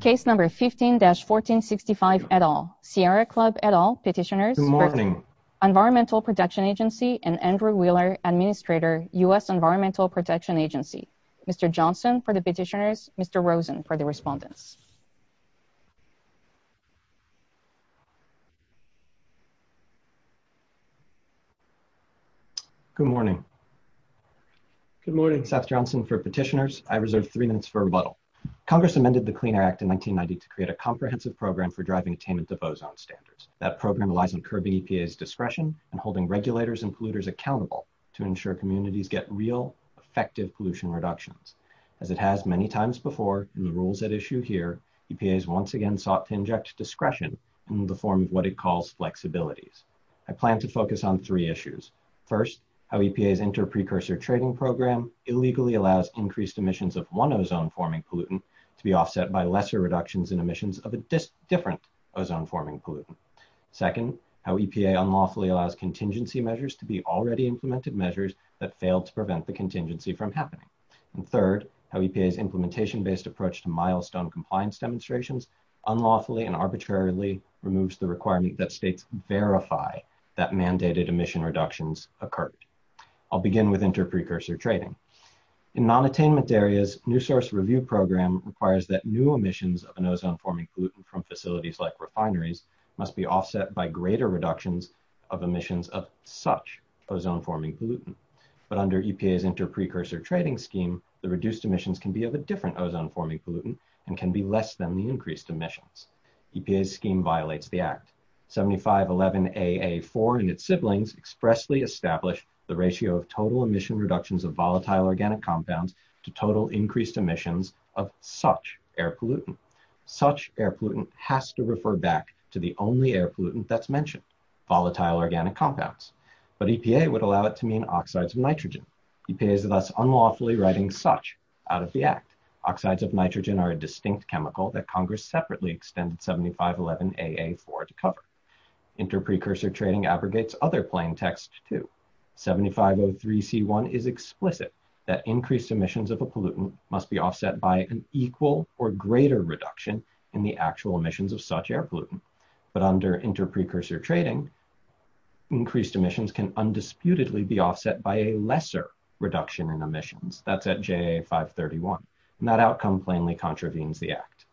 Case number 15-1465 et al. Sierra Club et al. Petitioners, Environmental Protection Agency and Andrew Wheeler, Administrator, U.S. Environmental Protection Agency. Mr. Johnson for the petitioners, Mr. Rosen for the respondents. Good morning. Good morning, Seth Johnson for petitioners. I reserve three minutes for rebuttal. Congress amended the Clean Air Act in 1990 to create a comprehensive program for driving attainment of ozone standards. That program relies on curbing EPA's discretion and holding regulators and polluters accountable to ensure communities get real, effective pollution reductions. As it has many times before in the rules at issue here, EPA has once again sought to inject discretion in the form of what it calls flexibilities. I plan to focus on three issues. First, how EPA's inter-precursor trading program illegally allows increased emissions of non-ozone-forming pollutant to be offset by lesser reductions in emissions of a different ozone-forming pollutant. Second, how EPA unlawfully allows contingency measures to be already implemented measures that failed to prevent the contingency from happening. And third, how EPA's implementation-based approach to milestone compliance demonstrations unlawfully and arbitrarily removes the requirement that states verify that mandated emission reductions occurred. I'll begin with inter-precursor trading. In non-attainment areas, new source review program requires that new emissions of an ozone-forming pollutant from facilities like refineries must be offset by greater reductions of emissions of such ozone-forming pollutant. But under EPA's inter-precursor trading scheme, the reduced emissions can be of a different ozone-forming pollutant and can be less than the increased emissions. EPA's scheme violates the total emission reductions of volatile organic compounds to total increased emissions of such air pollutant. Such air pollutant has to refer back to the only air pollutant that's mentioned, volatile organic compounds. But EPA would allow it to mean oxides of nitrogen. EPA is thus unlawfully writing such out of the act. Oxides of nitrogen are a distinct chemical that Congress separately extended 7511AA4 to cover. Inter-precursor trading abrogates other plain text too. 7503C1 is explicit that increased emissions of a pollutant must be offset by an equal or greater reduction in the actual emissions of such air pollutant. But under inter-precursor trading, increased emissions can undisputedly be offset by a lesser reduction in emissions. That's at 7511AA531. And that outcome plainly contravenes the act.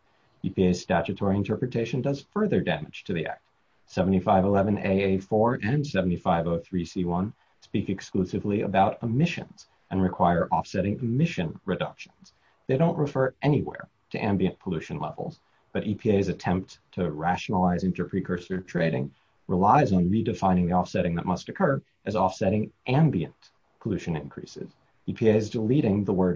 EPA's statutory interpretation does further damage to the act. 7511AA4 and 7503C1 speak exclusively about emissions and require offsetting emission reductions. They don't refer anywhere to ambient pollution levels, but EPA's attempt to rationalize inter-precursor trading relies on redefining the offsetting that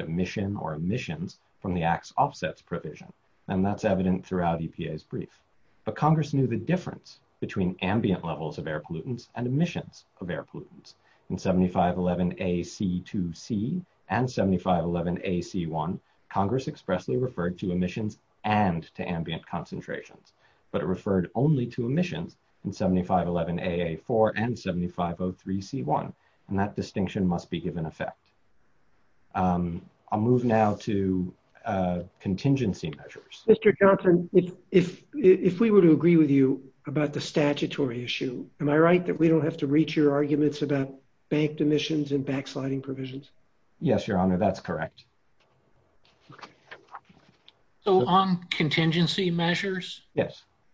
emission or emissions from the acts offsets provision. And that's evident throughout EPA's brief. But Congress knew the difference between ambient levels of air pollutants and emissions of air pollutants. In 7511AC2C and 7511AC1, Congress expressly referred to emissions and to ambient concentrations. But it referred only to emissions in 7511AA4 and 7503C1. And that distinction must be given effect. I'll move now to contingency measures. Mr. Johnson, if we were to agree with you about the statutory issue, am I right that we don't have to reach your arguments about banked emissions and backsliding provisions? Yes, Your Honor, that's correct. Okay. So on contingency measures,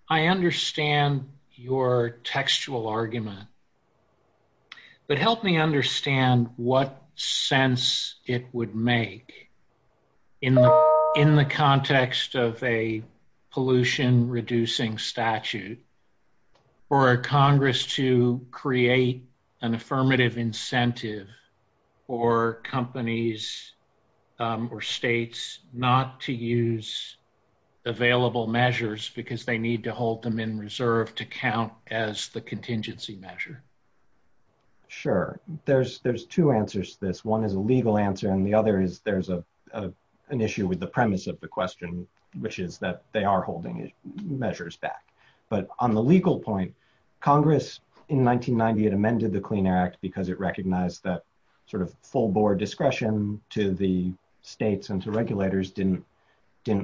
I understand your textual argument, but help me understand what sense it would make in the context of a pollution reducing statute for Congress to create an affirmative incentive for companies or states not to use available measures because they need to hold them in reserve to count as the contingency measure. Sure. There's two answers to this. One is a legal answer. And the other is there's an issue with the premise of the question, which is that they are holding measures back. But on the legal point, Congress in 1990, it amended the Clean Air Act because it recognized that sort of full board discretion to the states and to regulators didn't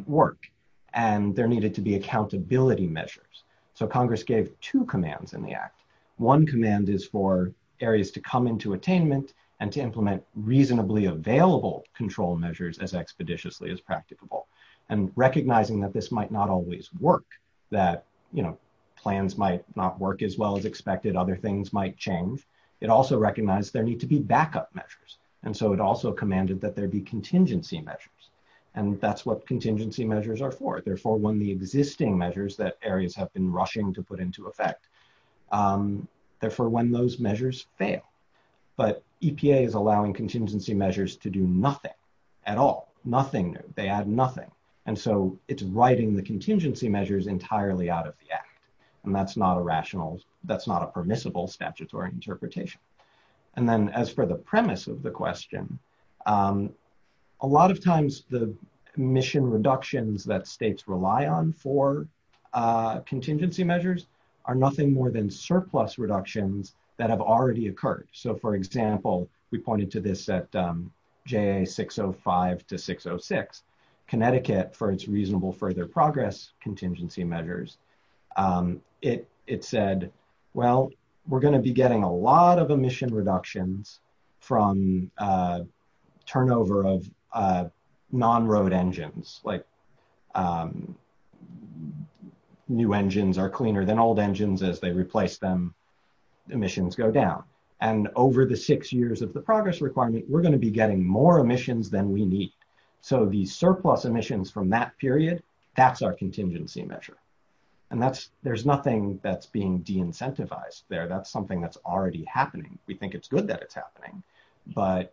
work. And there needed to be accountability measures. So Congress gave two commands in the act. One command is for areas to come into attainment and to implement reasonably available control measures as expeditiously as plans might not work as well as expected, other things might change. It also recognized there need to be backup measures. And so it also commanded that there be contingency measures. And that's what contingency measures are for. They're for when the existing measures that areas have been rushing to put into effect. They're for when those measures fail. But EPA is allowing contingency measures to do nothing at all, nothing new, they add nothing. And so it's writing the contingency measures entirely out of the act. And that's not a rational, that's not a permissible statutory interpretation. And then as for the premise of the question, a lot of times the mission reductions that states rely on for contingency measures are nothing more than surplus reductions that have already occurred. So for example, we pointed to this at JA 605 to 606, Connecticut for its reasonable further progress contingency measures. It said, well, we're going to be getting a lot of emission reductions from turnover of non-road engines, like new engines are cleaner than old engines as they replace them, emissions go down. And over the six years of the progress requirement, we're going to be getting more emissions than we need. So the surplus emissions from that period, that's our contingency measure. And there's nothing that's being de-incentivized there, that's something that's already happening. We think it's good that it's happening, but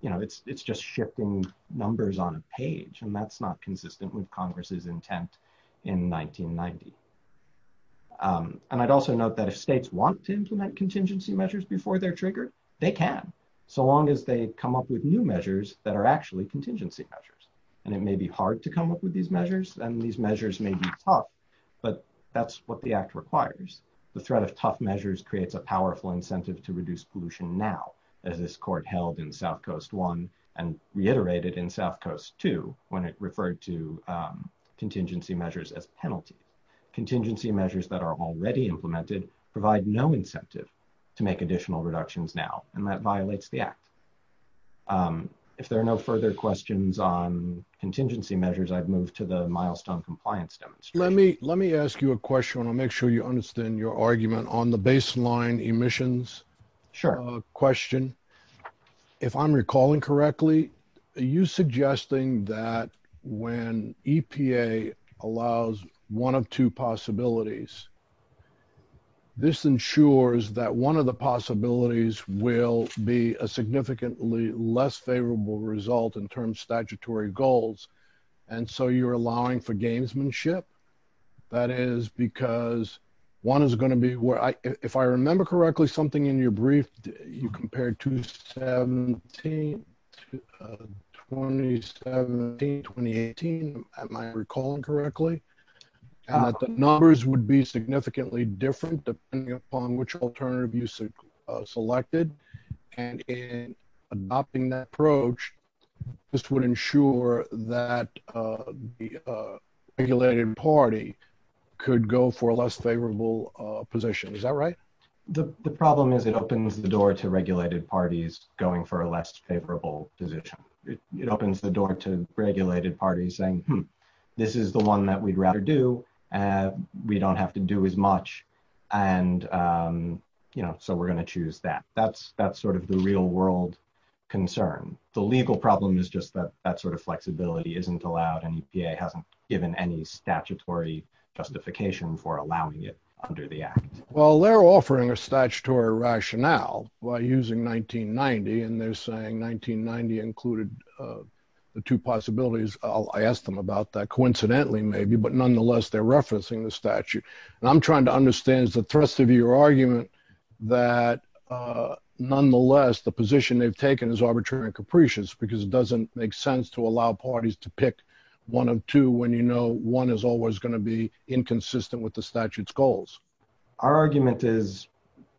it's just shifting numbers on a page and that's not consistent with Congress's intent in 1990. And I'd also note that if states want to implement contingency measures before they're implemented, as long as they come up with new measures that are actually contingency measures. And it may be hard to come up with these measures and these measures may be tough, but that's what the act requires. The threat of tough measures creates a powerful incentive to reduce pollution now, as this court held in South Coast 1 and reiterated in South Coast 2 when it referred to contingency measures as penalty. Contingency measures that are already implemented provide no incentive to make additional reductions now, and that violates the act. Um, if there are no further questions on contingency measures, I've moved to the milestone compliance demonstration. Let me, let me ask you a question and I'll make sure you understand your argument on the baseline emissions question. If I'm recalling correctly, you suggesting that when EPA allows one of two possibilities, this ensures that one of the possibilities will be a significantly less favorable result in terms of statutory goals. And so you're allowing for gamesmanship that is because one is going to be where I, if I remember correctly, something in your brief, you compared to 17, uh, 2017, 2018. Am I recalling correctly? Uh, the numbers would be significantly different depending upon which alternative you selected and in adopting that approach, this would ensure that, uh, the, uh, regulated party could go for a less favorable, uh, position. Is that right? The problem is it opens the door to regulated parties going for a less favorable position. It opens the door to regulated parties saying, this is the one that we'd rather do. Uh, we don't have to do as much. And, um, you know, so we're going to choose that. That's, that's sort of the real world concern. The legal problem is just that that sort of flexibility isn't allowed. And EPA hasn't given any statutory justification for allowing it under the act. Well, they're offering a statutory rationale by using 1990 and they're saying 1990 included, uh, the two possibilities. I'll, I asked them about that coincidentally, maybe, but nonetheless, they're referencing the statute. And I'm trying to understand is the thrust of your argument that, uh, nonetheless, the position they've taken is arbitrary and capricious because it doesn't make sense to allow parties to pick one of two. When you know, one is always going to be inconsistent with the statute's goals. Our argument is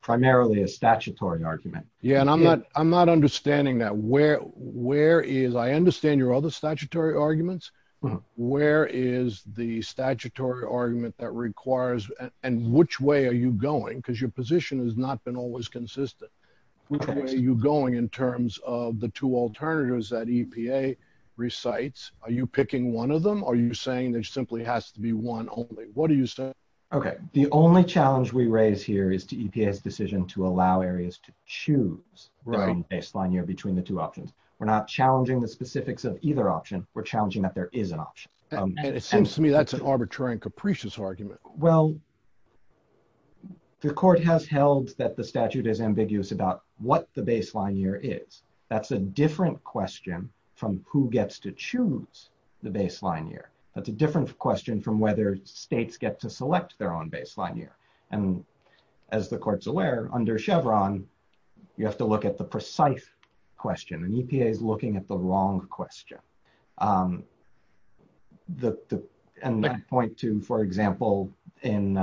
primarily a statutory argument. Yeah. And I'm not, I'm not understanding that where, where is, I understand your other statutory arguments. Where is the statutory argument that requires, and which way are you going? Cause your position has not been always consistent. Which way are you going in terms of the two alternatives that EPA recites? Are you picking one of them? Are you saying there simply has to be one only? What do you say? Okay. The only challenge we raise here is to EPA's decision to allow areas to choose baseline year between the two options. We're not challenging the specifics of either option. We're challenging that there is an option. It seems to me that's an arbitrary and capricious argument. Well, the court has held that the statute is ambiguous about what the baseline year is. That's a different question from who gets to choose the baseline year. That's a different question from whether states get to select their own baseline year. And as the court's aware under Chevron, you have to look at the precise question and EPA is looking at the wrong question. The, and I point to, for example, in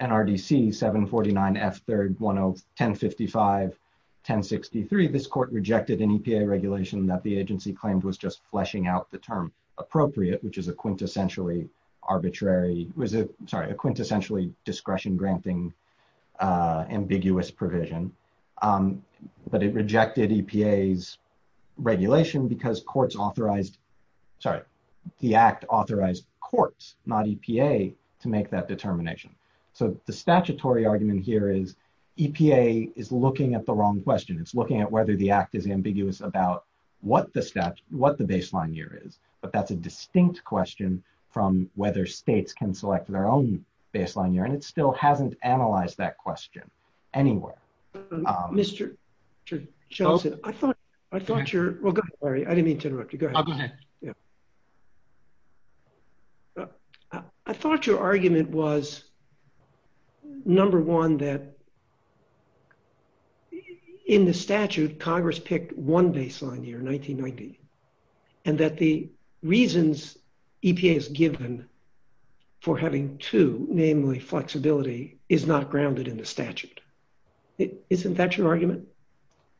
NRDC 749 F 3rd, 1055, 1063, this court rejected an EPA regulation that the agency claimed was just fleshing out the term appropriate, which is a was a, sorry, a quintessentially discretion granting ambiguous provision. But it rejected EPA's regulation because courts authorized, sorry, the act authorized courts, not EPA, to make that determination. So the statutory argument here is EPA is looking at the wrong question. It's looking at whether the act is ambiguous about what the stat, what the baseline year is. But that's a distinct question from whether states can select their own baseline year. And it still hasn't analyzed that question anywhere. Mr. Shelton, I thought, I thought your, well, go ahead Larry. I didn't mean to interrupt you. Go ahead. I thought your argument was number one, that in the statute, Congress picked one baseline year, 1990, and that the reasons EPA has given for having two, namely flexibility, is not grounded in the statute. Isn't that your argument?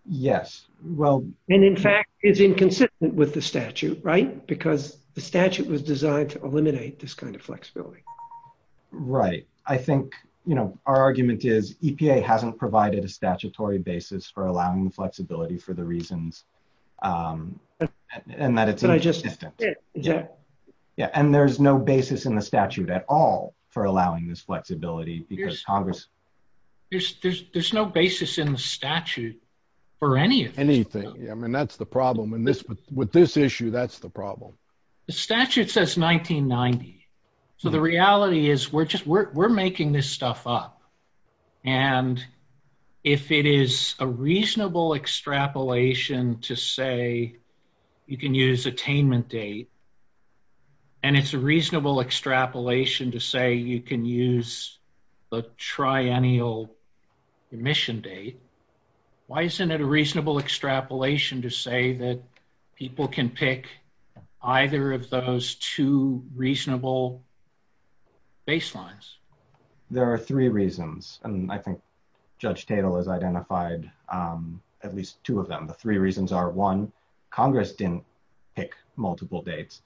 Yes. Well, and in fact is inconsistent with the statute, right? Because the statute was designed to eliminate this kind of flexibility. Right. I think, you know, our argument is EPA hasn't provided a statutory basis for allowing the flexibility for the reasons, and that it's inconsistent. Yeah. Yeah. And there's no basis in the statute at all for allowing this flexibility because Congress. There's, there's, there's no basis in the statute for any of this. Anything. Yeah. I mean, that's the problem. And this, with this issue, that's the problem. The statute says 1990. So the reality is we're just, we're just picking stuff up. And if it is a reasonable extrapolation to say you can use attainment date, and it's a reasonable extrapolation to say you can use the triennial emission date. Why isn't it a reasonable extrapolation to say that people can pick either of those two reasonable baselines? There are three reasons. And I think judge Tatel has identified at least two of them. The three reasons are one Congress didn't pick multiple dates.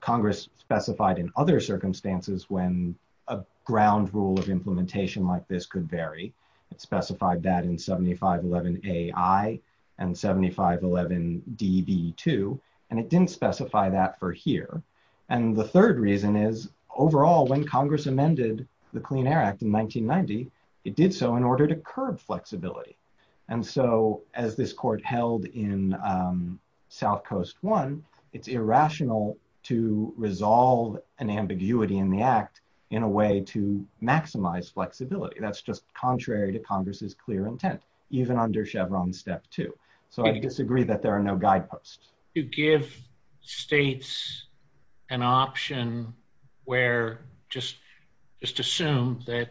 Congress specified in other circumstances when a ground rule of implementation like this could vary. It specified that in 7511 AI and 7511 DB2. And it didn't specify that for here. And the third reason is overall when Congress amended the Clean Air Act in 1990, it did so in order to curb flexibility. And so as this court held in South coast one, it's irrational to resolve an ambiguity in the act in a way to maximize flexibility. That's just contrary to Congress's clear intent, even under Chevron step two. So I disagree that there are no guideposts. To give states an option where just, just assume that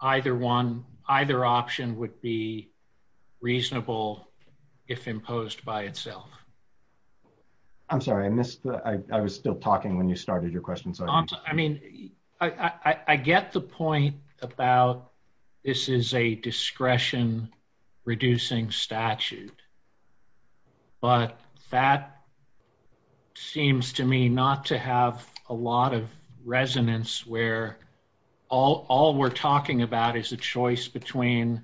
either one, either option would be reasonable if imposed by itself. I'm sorry, I missed the, I was still talking when you started your question. I mean, I get the point about this is a discretion reducing statute, but that seems to me not to have a lot of resonance where all we're talking about is a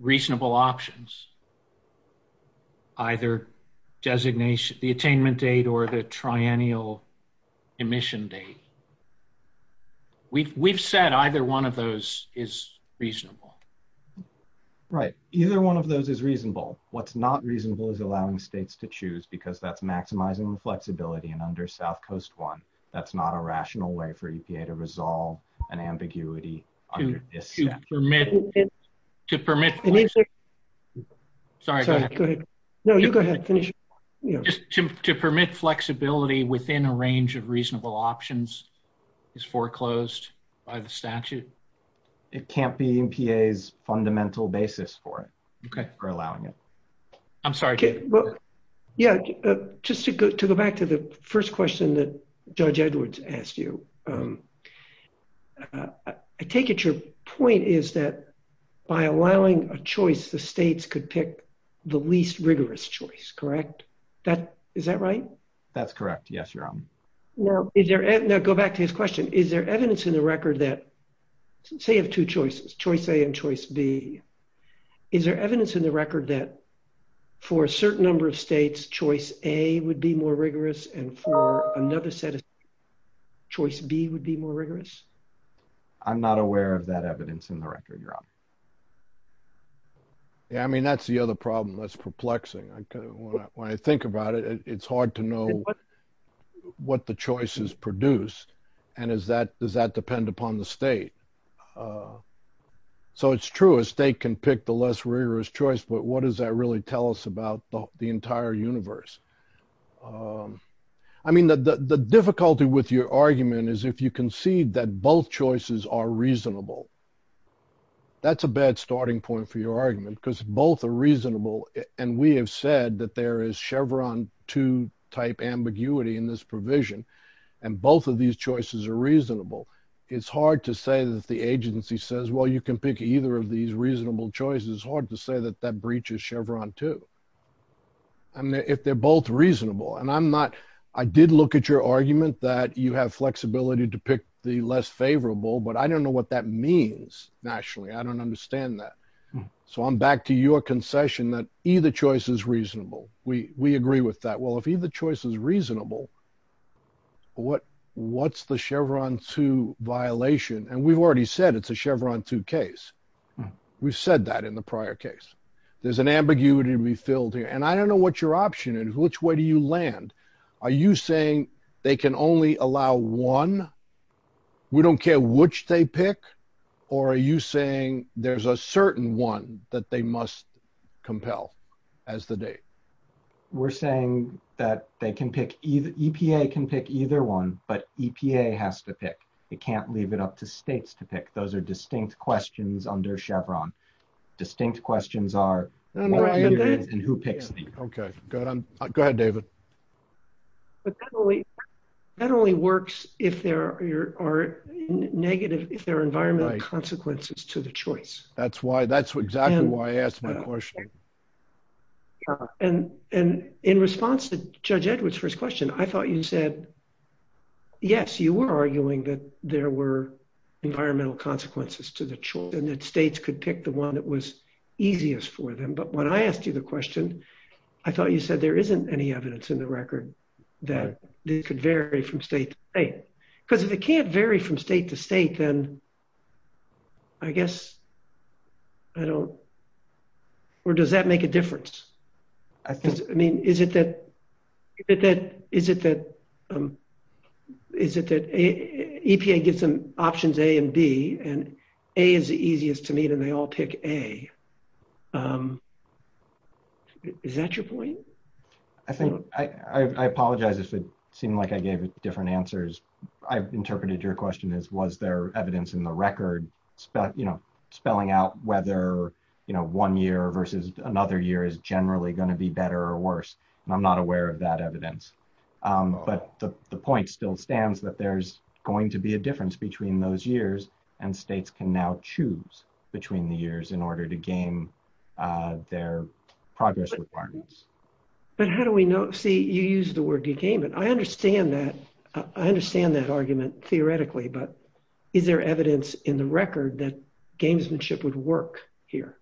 reasonable options, either designation, the attainment date, or the triennial emission date. We've, we've said either one of those is reasonable. Right. Either one of those is reasonable. What's not reasonable is allowing states to choose because that's maximizing the flexibility and under South coast one, that's not a rational way for EPA to resolve an ambiguity under this statute. To permit flexibility within a range of reasonable options is foreclosed by the statute. It can't be EPA's fundamental basis for it. Okay. For allowing it. I'm sorry. Yeah. Just to go back to the first question that I take at your point is that by allowing a choice, the states could pick the least rigorous choice, correct? That is that right? That's correct. Yes, your honor. Now go back to his question. Is there evidence in the record that say you have two choices, choice A and choice B, is there evidence in the record that for a certain number of states, choice A would be more rigorous and for another set of choice B would be more rigorous? I'm not aware of that evidence in the record, your honor. Yeah. I mean, that's the other problem that's perplexing. When I think about it, it's hard to know what the choice is produced. And is that, does that depend upon the state? So it's true. A state can pick the less rigorous choice, but what does that really tell us about the entire universe? I mean, the difficulty with your argument is if you concede that both choices are reasonable, that's a bad starting point for your argument because both are reasonable. And we have said that there is Chevron two type ambiguity in this provision. And both of these choices are reasonable. It's hard to say that the agency says, well, you can pick either of these reasonable choices. It's hard to say that that breaches Chevron two. I mean, if they're both reasonable and I'm not, I did look at your argument that you have flexibility to pick the less favorable, but I don't know what that means nationally. I don't understand that. So I'm back to your concession that either choice is reasonable. We, we agree with that. Well, if either choice is reasonable, what, what's the Chevron two violation. And we've already said, it's a Chevron two case. We've said that in the prior case, there's an ambiguity to be filled here. And I don't know what your option is. Which way do you land? Are you saying they can only allow one? We don't care which they pick, or are you saying there's a certain one that they must compel as the date? We're saying that they can pick either. EPA can pick either one, but EPA has to pick. It can't leave it up to States to pick. Those are distinct questions under Chevron. Distinct questions are who picks them. Okay. Go ahead, David. That only works if there are negative, if there are environmental consequences to the choice. That's why, that's exactly why I asked my question. And, and in response to judge Edwards first question, I thought you said, yes, you were arguing that there were environmental consequences to the choice and that States could pick the one that was easiest for them. But when I asked you the question, I thought you said there isn't any evidence in the record that it could vary from state to state. Because if it can't vary from state to state, then I guess I don't, or does that make a difference? I mean, is it that, is it that, is it that EPA gives them options A and B and A is the easiest to meet and they all pick A. Is that your point? I think, I, I apologize if it seemed like I gave different answers. I've interpreted your question as, was there evidence in the record, spell, you know, spelling out whether, you know, one year versus another year is generally going to be better or worse. And I'm not aware of that evidence. But the, the point still stands that there's going to be a difference between those years and States can now choose between the years in order to gain their progress requirements. But how do we know, see, you use the word de-game it. I understand that. I understand that argument theoretically, but is there in the record that gamesmanship would work here?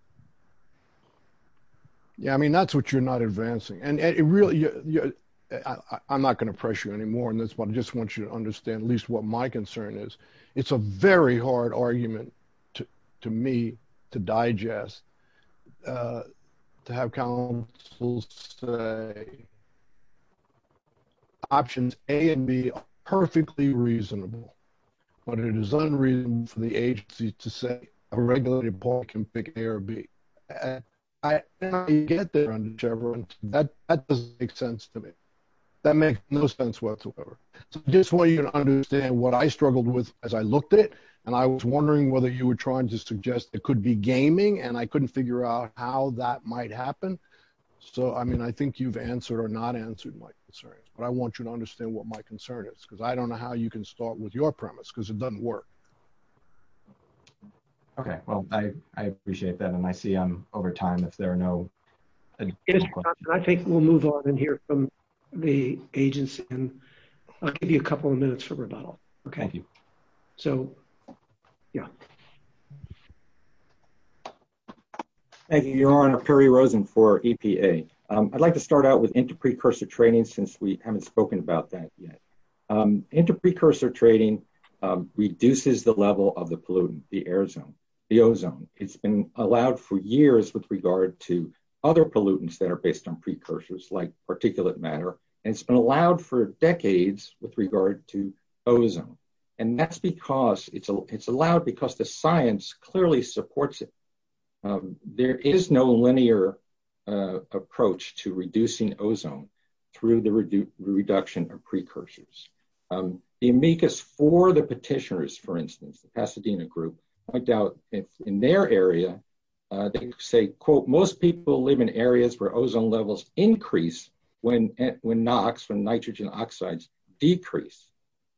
Yeah. I mean, that's what you're not advancing. And it really, I'm not going to pressure you anymore in this one. I just want you to understand at least what my concern is. It's a very hard argument to me to digest, to have councils say options A and B are perfectly reasonable, but it is unreasonable for the agency to say a regulated board can pick A or B. And I get that, that doesn't make sense to me. That makes no sense whatsoever. So just want you to understand what I struggled with as I looked at it. And I was wondering whether you were trying to suggest it could be gaming and I couldn't figure out how that might concern. But I want you to understand what my concern is because I don't know how you can start with your premise because it doesn't work. Okay. Well, I appreciate that. And I see I'm over time if there are no questions. I think we'll move on and hear from the agency and I'll give you a couple of minutes for rebuttal. Okay. Thank you. So yeah. Thank you, Your Honor. Perry Rosen for EPA. I'd like to start out with inter-precursor training since we haven't spoken about that yet. Inter-precursor training reduces the level of the pollutant, the ozone. It's been allowed for years with regard to other pollutants that are based on precursors like particulate matter. And it's been allowed for decades with regard to it. There is no linear approach to reducing ozone through the reduction of precursors. The amicus for the petitioners, for instance, the Pasadena group, I doubt if in their area, they say, quote, most people live in areas where ozone levels increase when NOx, when nitrogen oxides decrease.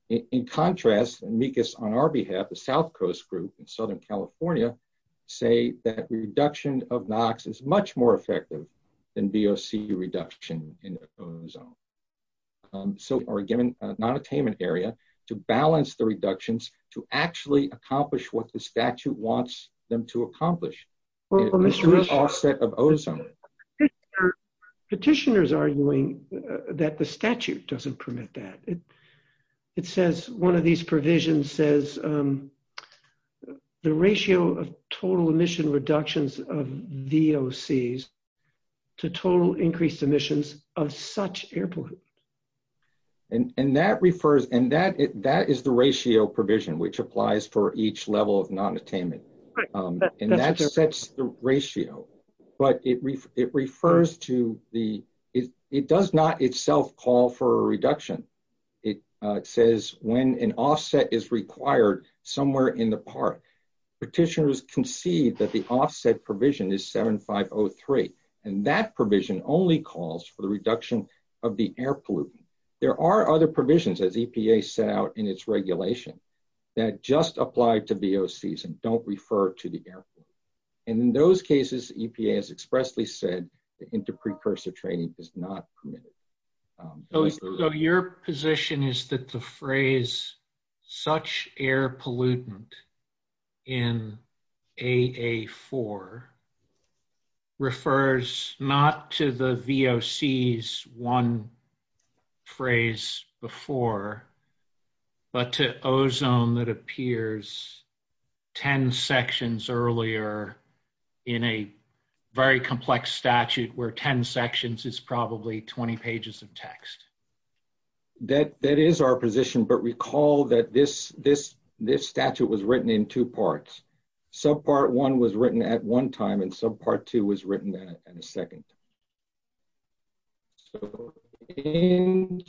In contrast, amicus on our behalf, the South Coast group in Southern California, say that reduction of NOx is much more effective than VOC reduction in ozone. So we're given a non-attainment area to balance the reductions to actually accomplish what the statute wants them to accomplish. Petitioners arguing that the statute doesn't permit that. It says, one of these provisions says the ratio of total emission reductions of VOCs to total increased emissions of such airport. And that is the ratio provision, which applies for each level of non-attainment. And that sets the ratio. But it refers to the, it does not itself call for a reduction. It says when an offset is required somewhere in the park, petitioners concede that the offset provision is 7503. And that provision only calls for the reduction of the air pollutant. There are other provisions as EPA set out in its regulation that just apply to VOCs and don't refer to the air. And in those cases, EPA has expressly said inter-precursor training is not permitted. So your position is that the phrase, such air pollutant in AA4 refers not to the VOCs one phrase before, but to ozone that appears 10 sections earlier in a very complex statute where 10 sections is probably 20 pages of text. That is our position, but recall that this statute was written in two parts. Subpart one was written at one time and subpart two was written in a second. So in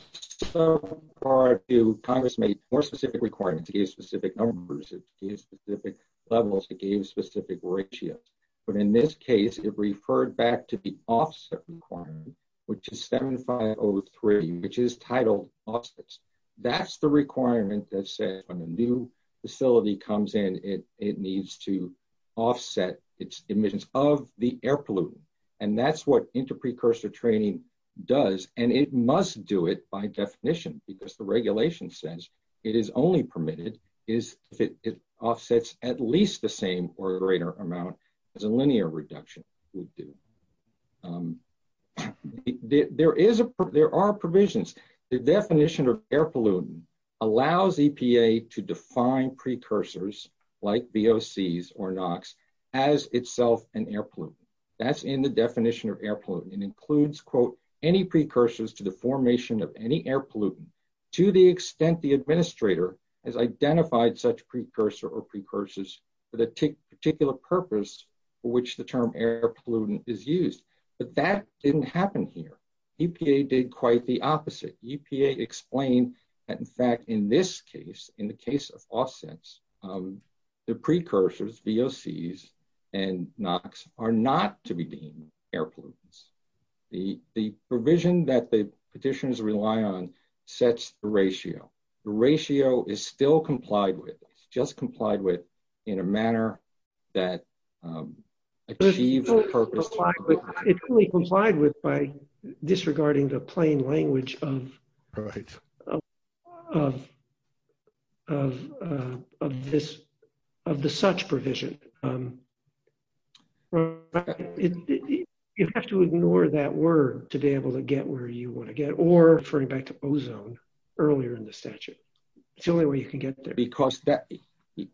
subpart two, Congress made more specific requirements to give specific numbers, to give specific levels, to give specific ratios. But in this case, it referred back to the offset requirement, which is 7503, which is titled offsets. That's the requirement that says when a new facility comes in, it needs to offset its emissions of the air pollutant. And that's what inter-precursor training does. And it must do it by definition because the regulation says it is only permitted if it offsets at least the same or greater amount as a linear reduction would do. There are provisions. The definition of air pollutant allows EPA to define precursors like VOCs or NOx as itself an air pollutant. That's in the definition of air pollutant. It includes, quote, any precursors to the formation of any air pollutant to the extent the administrator has identified such precursor or precursors for the particular purpose for which the term air pollutant is used. But that didn't happen here. EPA did quite the opposite. EPA explained that, in fact, in this case, in the case of offsets, the precursors, VOCs and NOx, are not to be deemed air pollutants. The provision that the petitioners rely on sets the ratio. The ratio is still complied with. It's just complied with in a manner that achieves the purpose. It's complied with by disregarding the plain language of the such provision. You have to ignore that word to be able to get where you want to get, or referring back to ozone earlier in the statute. It's the only way you can get there. Because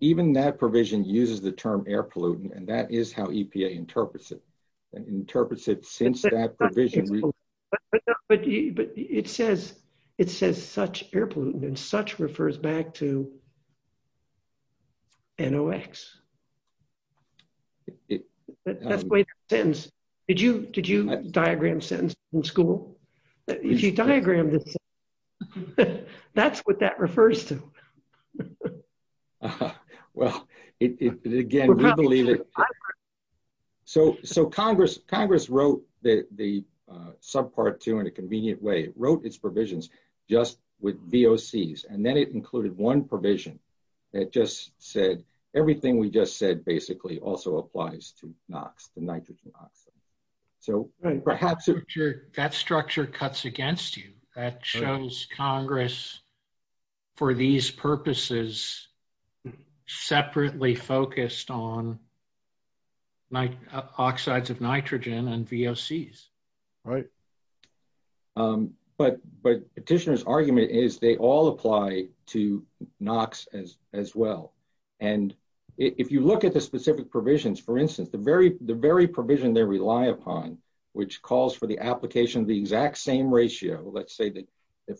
even that provision uses the term air pollutant, and that is how EPA interprets it, interprets it since that provision. But it says such air pollutant, and such refers back to NOx. That's the way it ends. Did you diagram sentence in school? If you diagram this sentence, that's what that refers to. Well, again, we believe it. Congress wrote the subpart two in a convenient way. It wrote its provisions just with VOCs, and then it included one provision that just said everything we just basically also applies to NOx, the nitrogen oxide. That structure cuts against you. That shows Congress, for these purposes, separately focused on oxides of nitrogen and VOCs. Right. But Petitioner's argument is they all apply to NOx as well. If you look at the specific provisions, for instance, the very provision they rely upon, which calls for the application of the exact same ratio, let's say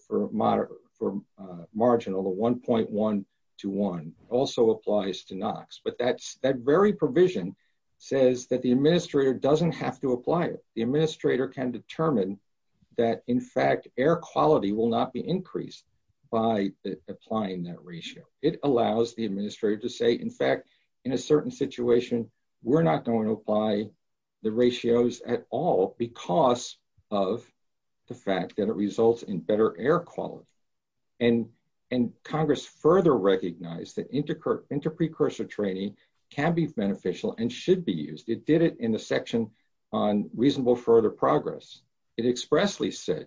for marginal, the 1.1 to 1, also applies to NOx. But that very provision says that the administrator doesn't have to apply it. The administrator can determine that, in fact, air quality will not be increased by applying that ratio. It allows the administrator to say, in fact, in a certain situation, we're not going to apply the ratios at all because of the fact that it results in better air quality. Congress further recognized that interprecursor training can be beneficial and should be used. It did it in the section on reasonable further progress. It expressly said,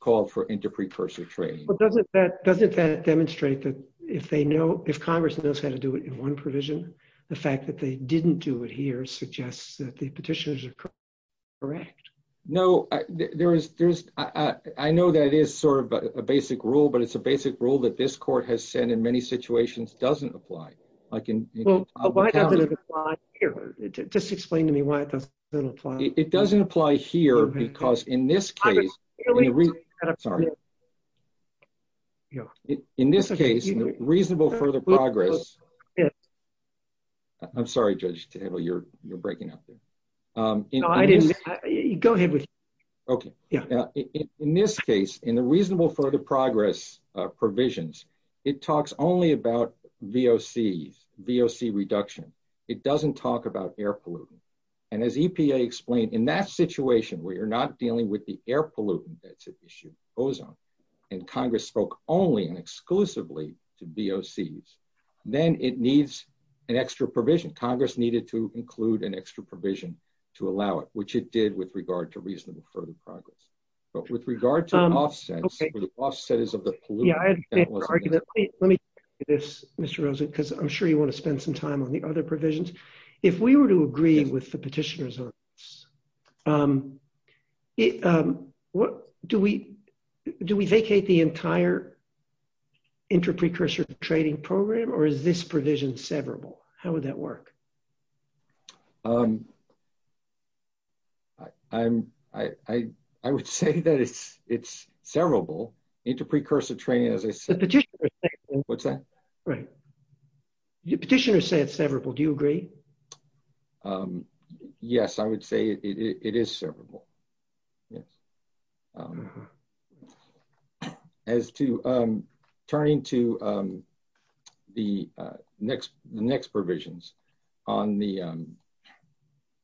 called for interprecursor training. Doesn't that demonstrate that if Congress knows how to do it in one provision, the fact that they didn't do it here suggests that the Petitioner's are correct? No. I know that is a basic rule, but it's a basic rule that this court has said in many situations doesn't apply. Why doesn't it apply here? Just explain to me why it doesn't apply. It doesn't apply here because in this case, reasonable further progress. I'm sorry, Judge, you're breaking up. Go ahead. Okay. In this case, in the reasonable further progress provisions, it talks only about VOCs, VOC reduction. It doesn't talk about air pollutant. As EPA explained, in that situation, where you're not dealing with the air pollutant that's an issue, ozone, and Congress spoke only and exclusively to VOCs, then it needs an extra provision. Congress needed to include an extra provision to allow it, which it did with regard to reasonable further progress. With regard to offsets, where the offset is of the pollutant- Yeah, I had the argument. Let me take this, Mr. Rosen, because I'm sure you want to spend some time on the other provisions. If we were to agree with the Petitioner's on this, do we vacate the entire interprecursor training program, or is this provision severable? How would that work? I would say that it's severable. Interprecursor training, as I said- The Petitioner said- What's that? Right. The Petitioner said it's severable. Do you agree? Yes, I would say it is severable. Yes.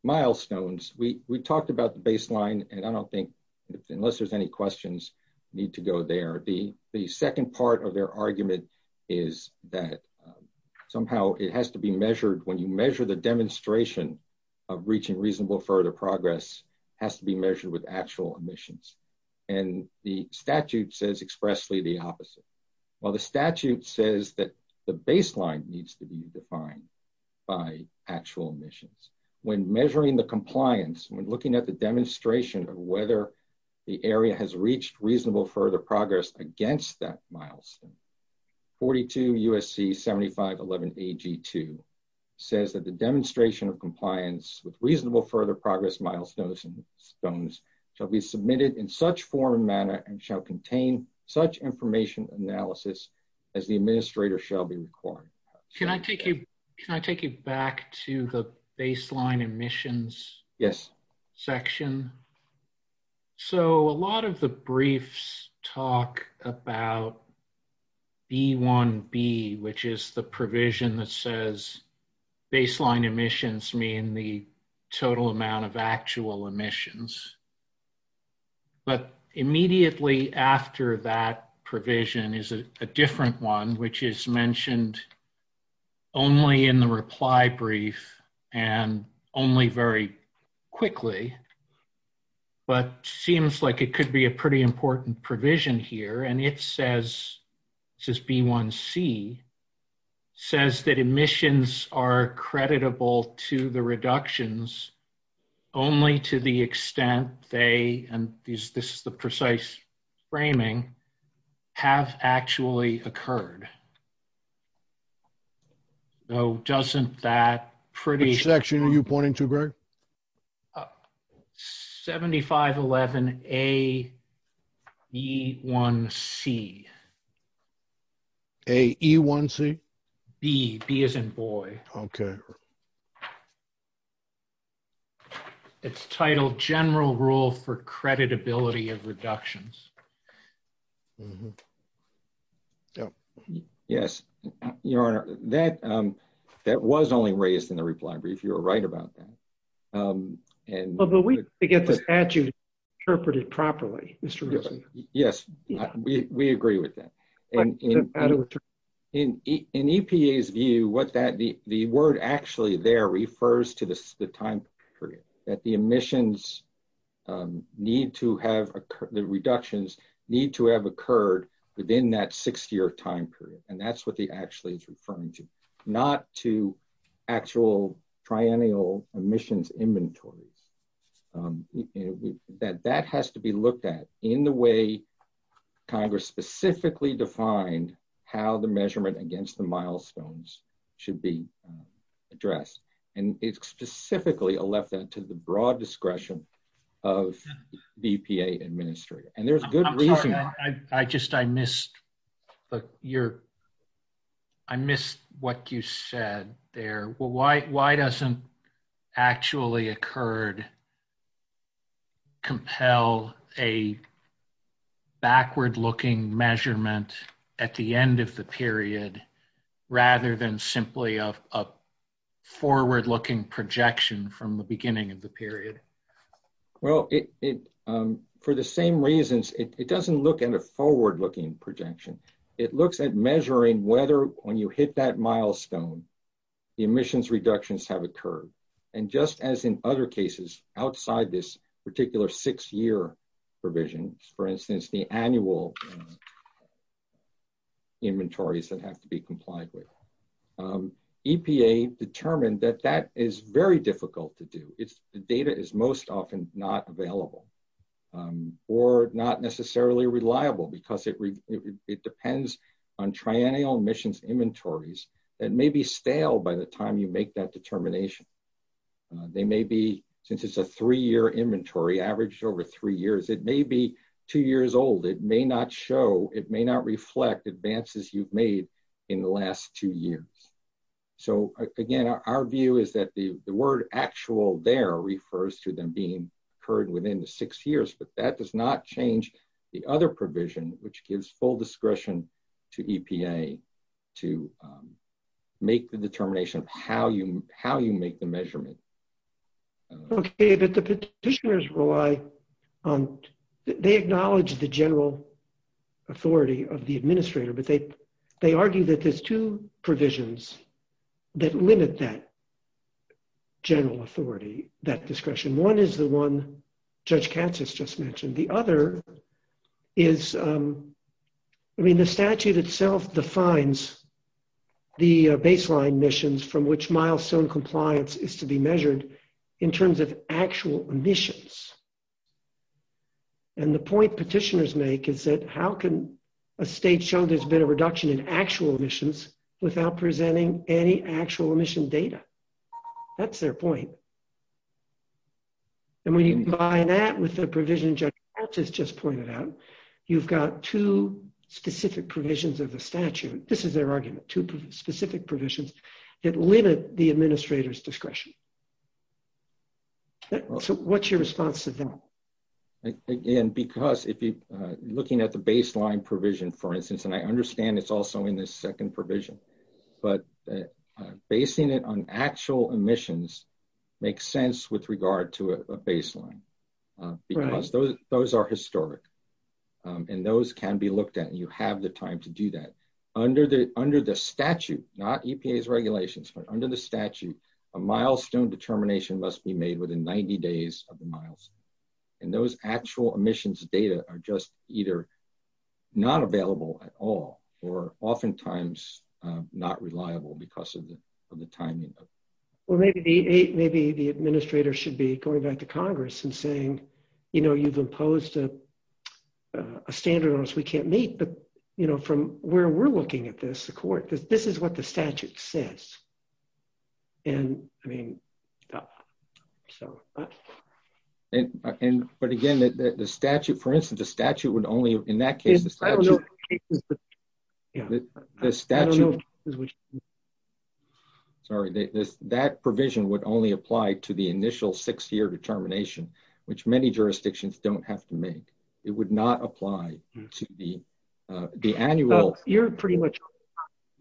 Milestones, we talked about the baseline, and I don't think, unless there's any questions, need to go there. The second part of their argument is that somehow it has to be measured, when you measure the demonstration of reaching reasonable further progress, has to be measured with actual emissions. The statute says expressly the opposite. Well, the statute says that the baseline needs to be defined by actual emissions. When measuring the compliance, when looking at the demonstration of whether the area has reached reasonable further progress against that milestone, 42 USC 7511AG2 says that the demonstration of compliance with reasonable further progress milestones shall be submitted in such form and manner and shall contain such information analysis as the administrator shall be requiring. Can I take you back to the baseline emissions- Yes. Section? A lot of the briefs talk about B1B, which is the provision that says baseline emissions mean the emissions, but immediately after that provision is a different one, which is mentioned only in the reply brief and only very quickly, but seems like it could be a pretty important provision here. It says, this is B1C, says that emissions are creditable to the reductions only to the extent they, and this is the precise framing, have actually occurred. Though doesn't that pretty- Which section are you pointing to, Greg? 7511AE1C. AE1C? B, B as in boy. Okay. It's titled general rule for creditability of reductions. Yes. Your Honor, that was only raised in the reply brief. You were right about that. Although we forget the statute interpreted properly, Mr. Rizzo. Yes, we agree with that. In EPA's view, the word actually there refers to the time period, that the reductions need to have occurred within that six-year time period. That's what actually it's referring to, not to actual triennial emissions inventories. That has to be looked at in the way Congress specifically defined how the measurement against the milestones should be addressed. It's specifically left that to the broad discretion of the EPA administrator. There's good reason- I missed what you said there. Why doesn't actually occurred compel a backward-looking measurement at the end of the period, rather than simply a forward-looking projection from the beginning of the period? Well, for the same reasons, it doesn't look at a forward-looking projection. It looks at measuring whether when you hit that milestone, the emissions reductions have occurred. Just as in other cases outside this particular six-year provision, for instance, the annual inventories that have to be complied with, EPA determined that that is very difficult to do. The data is most often not available or not necessarily reliable because it depends on triennial emissions inventories that may be stale by the time you make that determination. Since it's a three-year inventory, averaged over three years, it may be two years old. It may not show, it may not reflect advances you've made in the last two years. Again, our view is that the word actual there refers to them being heard within the six years, but that does not change the other provision, which gives full discretion to EPA to make the determination of how you make the measurement. Okay, but the petitioners rely on... They acknowledge the general authority of the administrator, but they argue that there's two provisions that limit that general authority, that discretion. One is the one Judge Katz has just mentioned. The other is... The statute itself defines the baseline emissions from which milestone compliance is to be measured in terms of actual emissions. The point petitioners make is that how can a state show there's been a reduction in actual emissions without presenting any actual emission data? That's their point. And when you combine that with the provision Judge Katz has just pointed out, you've got two specific provisions of the statute. This is their argument, two specific provisions that limit the administrator's discretion. So what's your response to them? Again, because if you're looking at the baseline provision, for instance, and I understand it's also in this second provision, but basing it on actual emissions makes sense with regard to a baseline, because those are historic, and those can be looked at, and you have the time to do that. Under the statute, not EPA's regulations, but under the statute, a milestone determination must be made within 90 days of the milestone, and those actual emissions data are just either not available at all or oftentimes not reliable because of the timing. Well, maybe the administrator should be going back to Congress and saying, you've imposed a standard on us we can't meet, but from where we're looking at this, the court, this is what the statute says. But again, the statute, for instance, the statute would only, in that case... Sorry, that provision would only apply to the initial six-year determination, which many jurisdictions don't have to make. It would not apply to the annual... You're pretty much...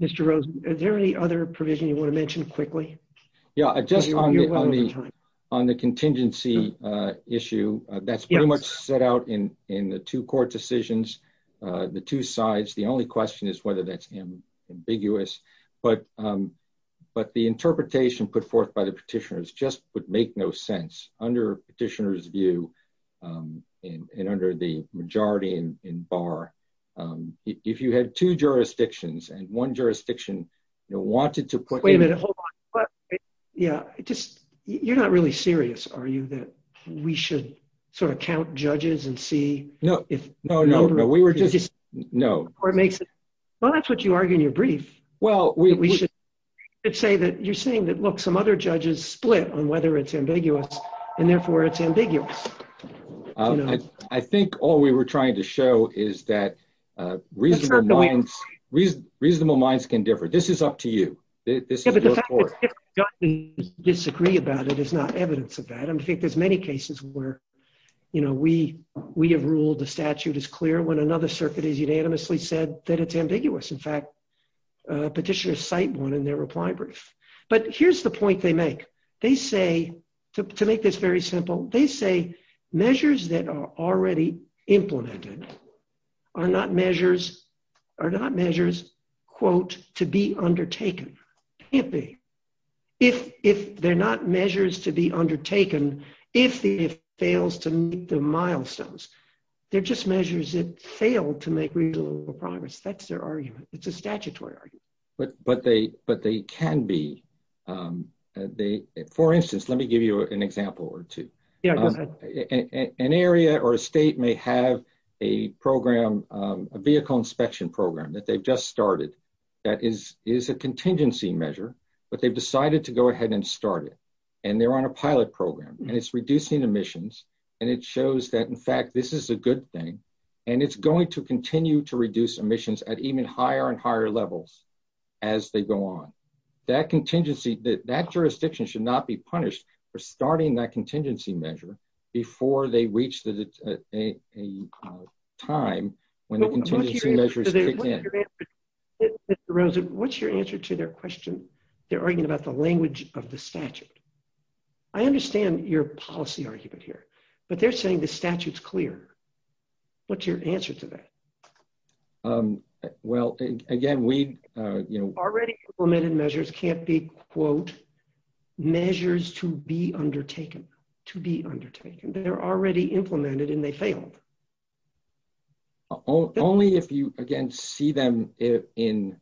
Mr. Rosen, is there any other provision you want to mention quickly? Yeah, just on the contingency issue, that's pretty much set out in the two court decisions, the two sides. The only question is whether that's ambiguous, but the interpretation put forth by the petitioners just would make no sense under petitioners' view and under the majority in two jurisdictions, and one jurisdiction wanted to put... Wait a minute, hold on. Yeah, you're not really serious, are you, that we should count judges and see if... No, no, no, we were just... Well, that's what you argue in your brief, that we should say that you're saying that, look, some other judges split on whether it's ambiguous, and therefore it's ambiguous. I think all we were trying to show is that reasonable... Reasonable minds can differ. This is up to you. This is your court. Yeah, but the fact that judges disagree about it is not evidence of that, and I think there's many cases where we have ruled the statute is clear when another circuit has unanimously said that it's ambiguous. In fact, petitioners cite one in their reply brief. But here's the point they make. They say, to make this very simple, they say measures that are already implemented are not measures, quote, to be undertaken. Can't be. If they're not measures to be undertaken, if it fails to meet the milestones, they're just measures that failed to make reasonable progress. That's their argument. It's a statutory argument. But they can be. For instance, let me give you an example or two. An area or a state may have a vehicle inspection program that they've just started that is a contingency measure, but they've decided to go ahead and start it, and they're on a pilot program, and it's reducing emissions, and it shows that, in fact, this is a good thing, and it's going to continue to reduce emissions at even higher and higher levels as they go on. That contingency, that jurisdiction should not be punished for starting that contingency measure before they reach the time when the contingency measures kick in. Mr. Rosen, what's your answer to their question? They're arguing about the language of the statute. I understand your policy argument here, but they're saying the statute's clear. What's your answer to that? Already implemented measures can't be, quote, measures to be undertaken. They're already implemented, and they failed. Only if you, again, see them in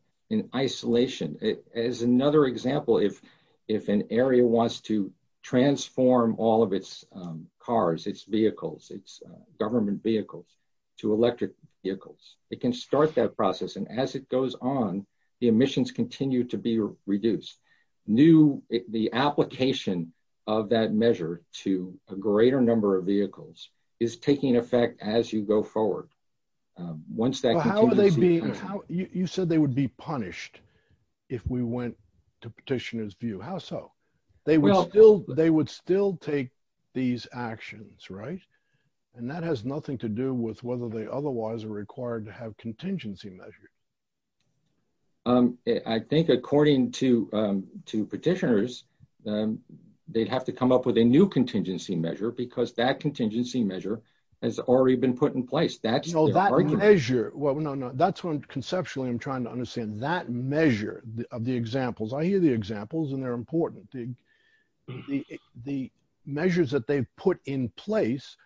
isolation. As another example, if an area wants to transform all of its cars, its vehicles, its government vehicles, to electric vehicles, it can start that process, and as it goes on, the emissions continue to be reduced. The application of that measure to a greater number of vehicles is taking effect as you go forward. You said they would be punished if we went to petitioners' view. How so? They would still take these actions, and that has nothing to do with whether they otherwise are required to have contingency measures. I think according to petitioners, they'd have to come up with a new contingency measure because that contingency measure has already been put in place. That's their argument. That measure, well, no, no. That's what conceptually I'm trying to understand. That measures that they've put in place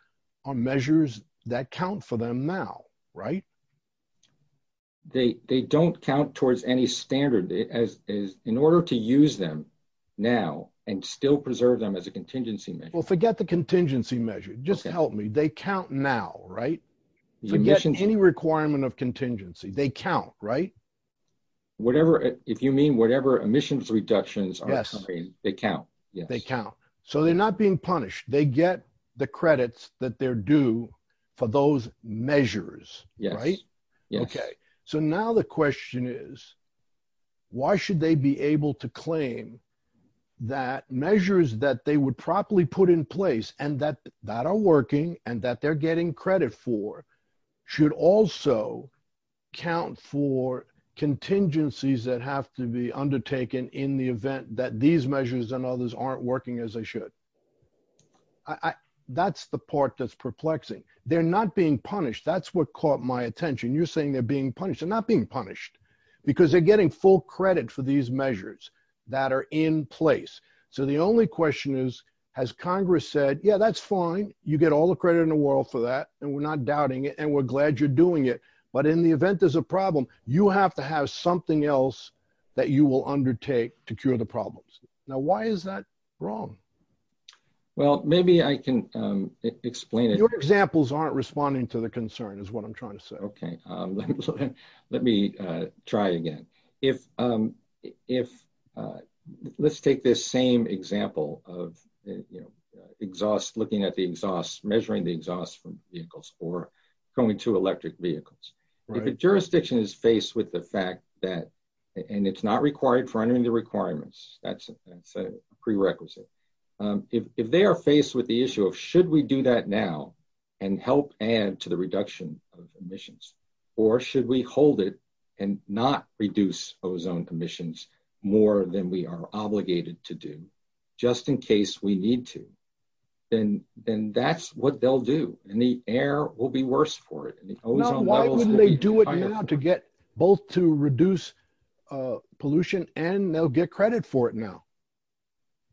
are measures that count for them now, right? They don't count towards any standard in order to use them now and still preserve them as a contingency measure. Well, forget the contingency measure. Just help me. They count now, right? Forget any requirement of contingency. They count, right? If you mean whatever emissions reductions are occurring, they count. They count. So they're not being punished. They get the credits that they're due for those measures, right? Okay. So now the question is, why should they be able to claim that measures that they would properly put in place and that are working and that they're getting credit for should also count for contingencies that have to be undertaken in the event that these measures and others aren't working as they should? That's the part that's perplexing. They're not being punished. That's what caught my attention. You're saying they're being punished. They're not being punished because they're getting full credit for these measures that are in place. So the only question is, has Congress said, yeah, that's fine. You get all the credit in the world for that. And we're not doubting it. And we're glad you're doing it. But in the event there's a problem, you have to have something else that you will undertake to cure the problems. Now, why is that wrong? Well, maybe I can explain it. Your examples aren't responding to the concern is what I'm trying to say. Okay. Let me try again. Let's take this same example of exhaust, looking at the exhaust, measuring the exhaust from vehicles or going to electric vehicles. If a jurisdiction is that, and it's not required for any of the requirements, that's a prerequisite. If they are faced with the issue of should we do that now and help add to the reduction of emissions, or should we hold it and not reduce ozone emissions more than we are obligated to do, just in case we need to, then that's what they'll do. And the air will be worse for it. Why wouldn't they do it now to get both to reduce pollution and they'll get credit for it now?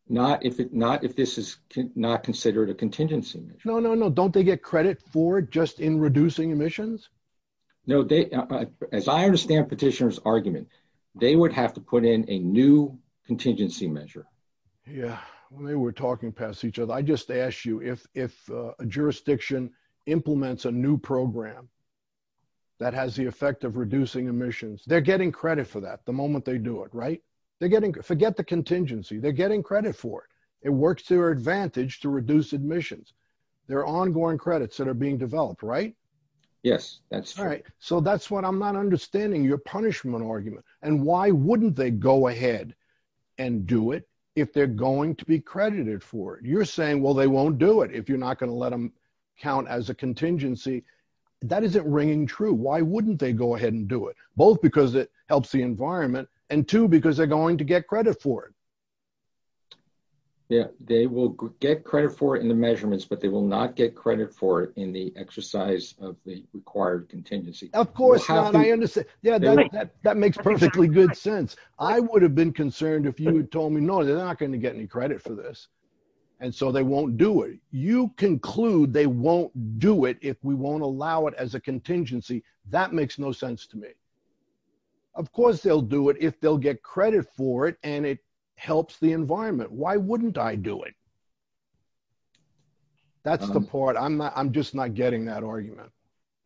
Not if this is not considered a contingency measure. No, no, no. Don't they get credit for it just in reducing emissions? No. As I understand petitioner's argument, they would have to put in a new contingency measure. Yeah. Well, maybe we're talking past each other. I just asked you if a jurisdiction implements a new program that has the effect of reducing emissions. They're getting credit for that the moment they do it, right? Forget the contingency. They're getting credit for it. It works to their advantage to reduce emissions. There are ongoing credits that are being developed, right? Yes. That's right. So that's what I'm not understanding your punishment argument. And why wouldn't they go ahead and do it if they're going to be credited for it? You're not going to let them count as a contingency. That isn't ringing true. Why wouldn't they go ahead and do it? Both because it helps the environment and two, because they're going to get credit for it. Yeah. They will get credit for it in the measurements, but they will not get credit for it in the exercise of the required contingency. Of course. I understand. Yeah. That makes perfectly good sense. I would have been concerned if you had told me, no, they're not going to get any credit for this. And so they won't do it. You conclude they won't do it if we won't allow it as a contingency. That makes no sense to me. Of course, they'll do it if they'll get credit for it and it helps the environment. Why wouldn't I do it? That's the part. I'm not, I'm just not getting that argument.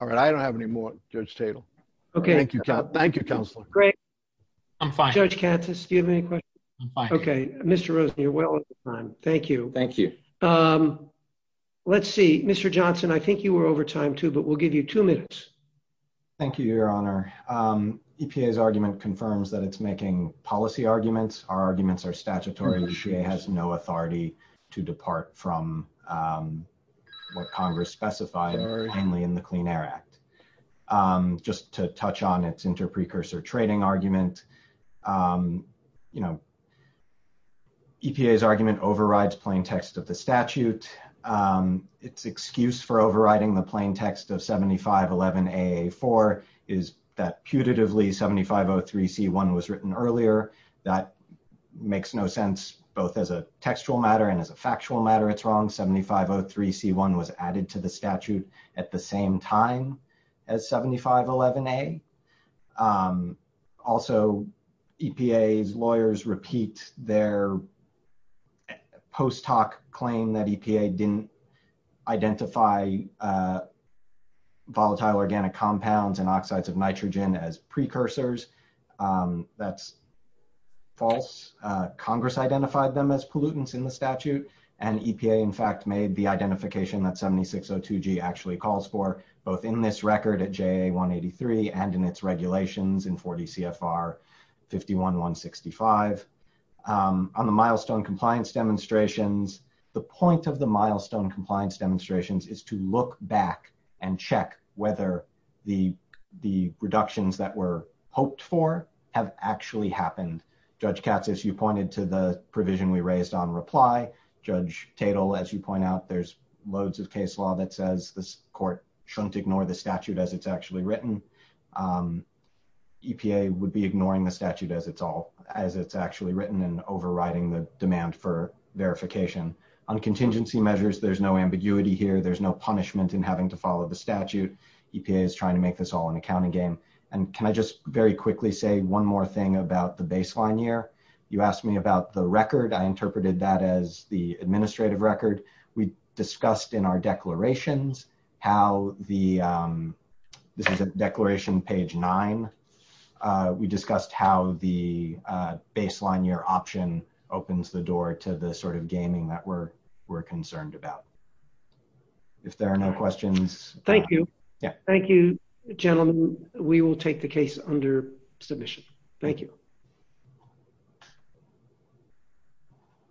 All right. I don't have any more judge Tatel. Okay. Thank you. Thank you. Counselor. Great. I'm fine. Judge Tatel. Let's see, Mr. Johnson, I think you were over time too, but we'll give you two minutes. Thank you, your honor. EPA's argument confirms that it's making policy arguments. Our arguments are statutory. EPA has no authority to depart from what Congress specified only in the Clean Air Act. Just to touch on its inter-precursor trading argument, EPA's argument overrides plain text of the statute. Its excuse for overriding the plain text of 7511AA4 is that putatively 7503C1 was written earlier. That makes no sense both as a textual matter and as a factual matter. It's wrong. 7503C1 was added to the statute at the same time as 7511A. Also EPA's post hoc claim that EPA didn't identify volatile organic compounds and oxides of nitrogen as precursors. That's false. Congress identified them as pollutants in the statute and EPA in fact made the identification that 7602G actually calls for both in this record at JA183 and in its regulations in 40 CFR 51165. On the milestone compliance demonstrations, the point of the milestone compliance demonstrations is to look back and check whether the reductions that were hoped for have actually happened. Judge Katz, as you pointed to the provision we raised on reply, Judge Tatel, as you point out, there's loads of case law that says this court shouldn't ignore the statute as it's actually written. EPA would be ignoring the statute as it's actually written and overriding the demand for verification. On contingency measures, there's no ambiguity here. There's no punishment in having to follow the statute. EPA is trying to make this all an accounting game. Can I just very quickly say one more thing about the baseline year? You asked me about the record. I interpreted that as the administrative record. We discussed in our this is a declaration page nine. We discussed how the baseline year option opens the door to the sort of gaming that we're concerned about. If there are no questions. Thank you. Thank you gentlemen. We will take the case under submission. Thank you.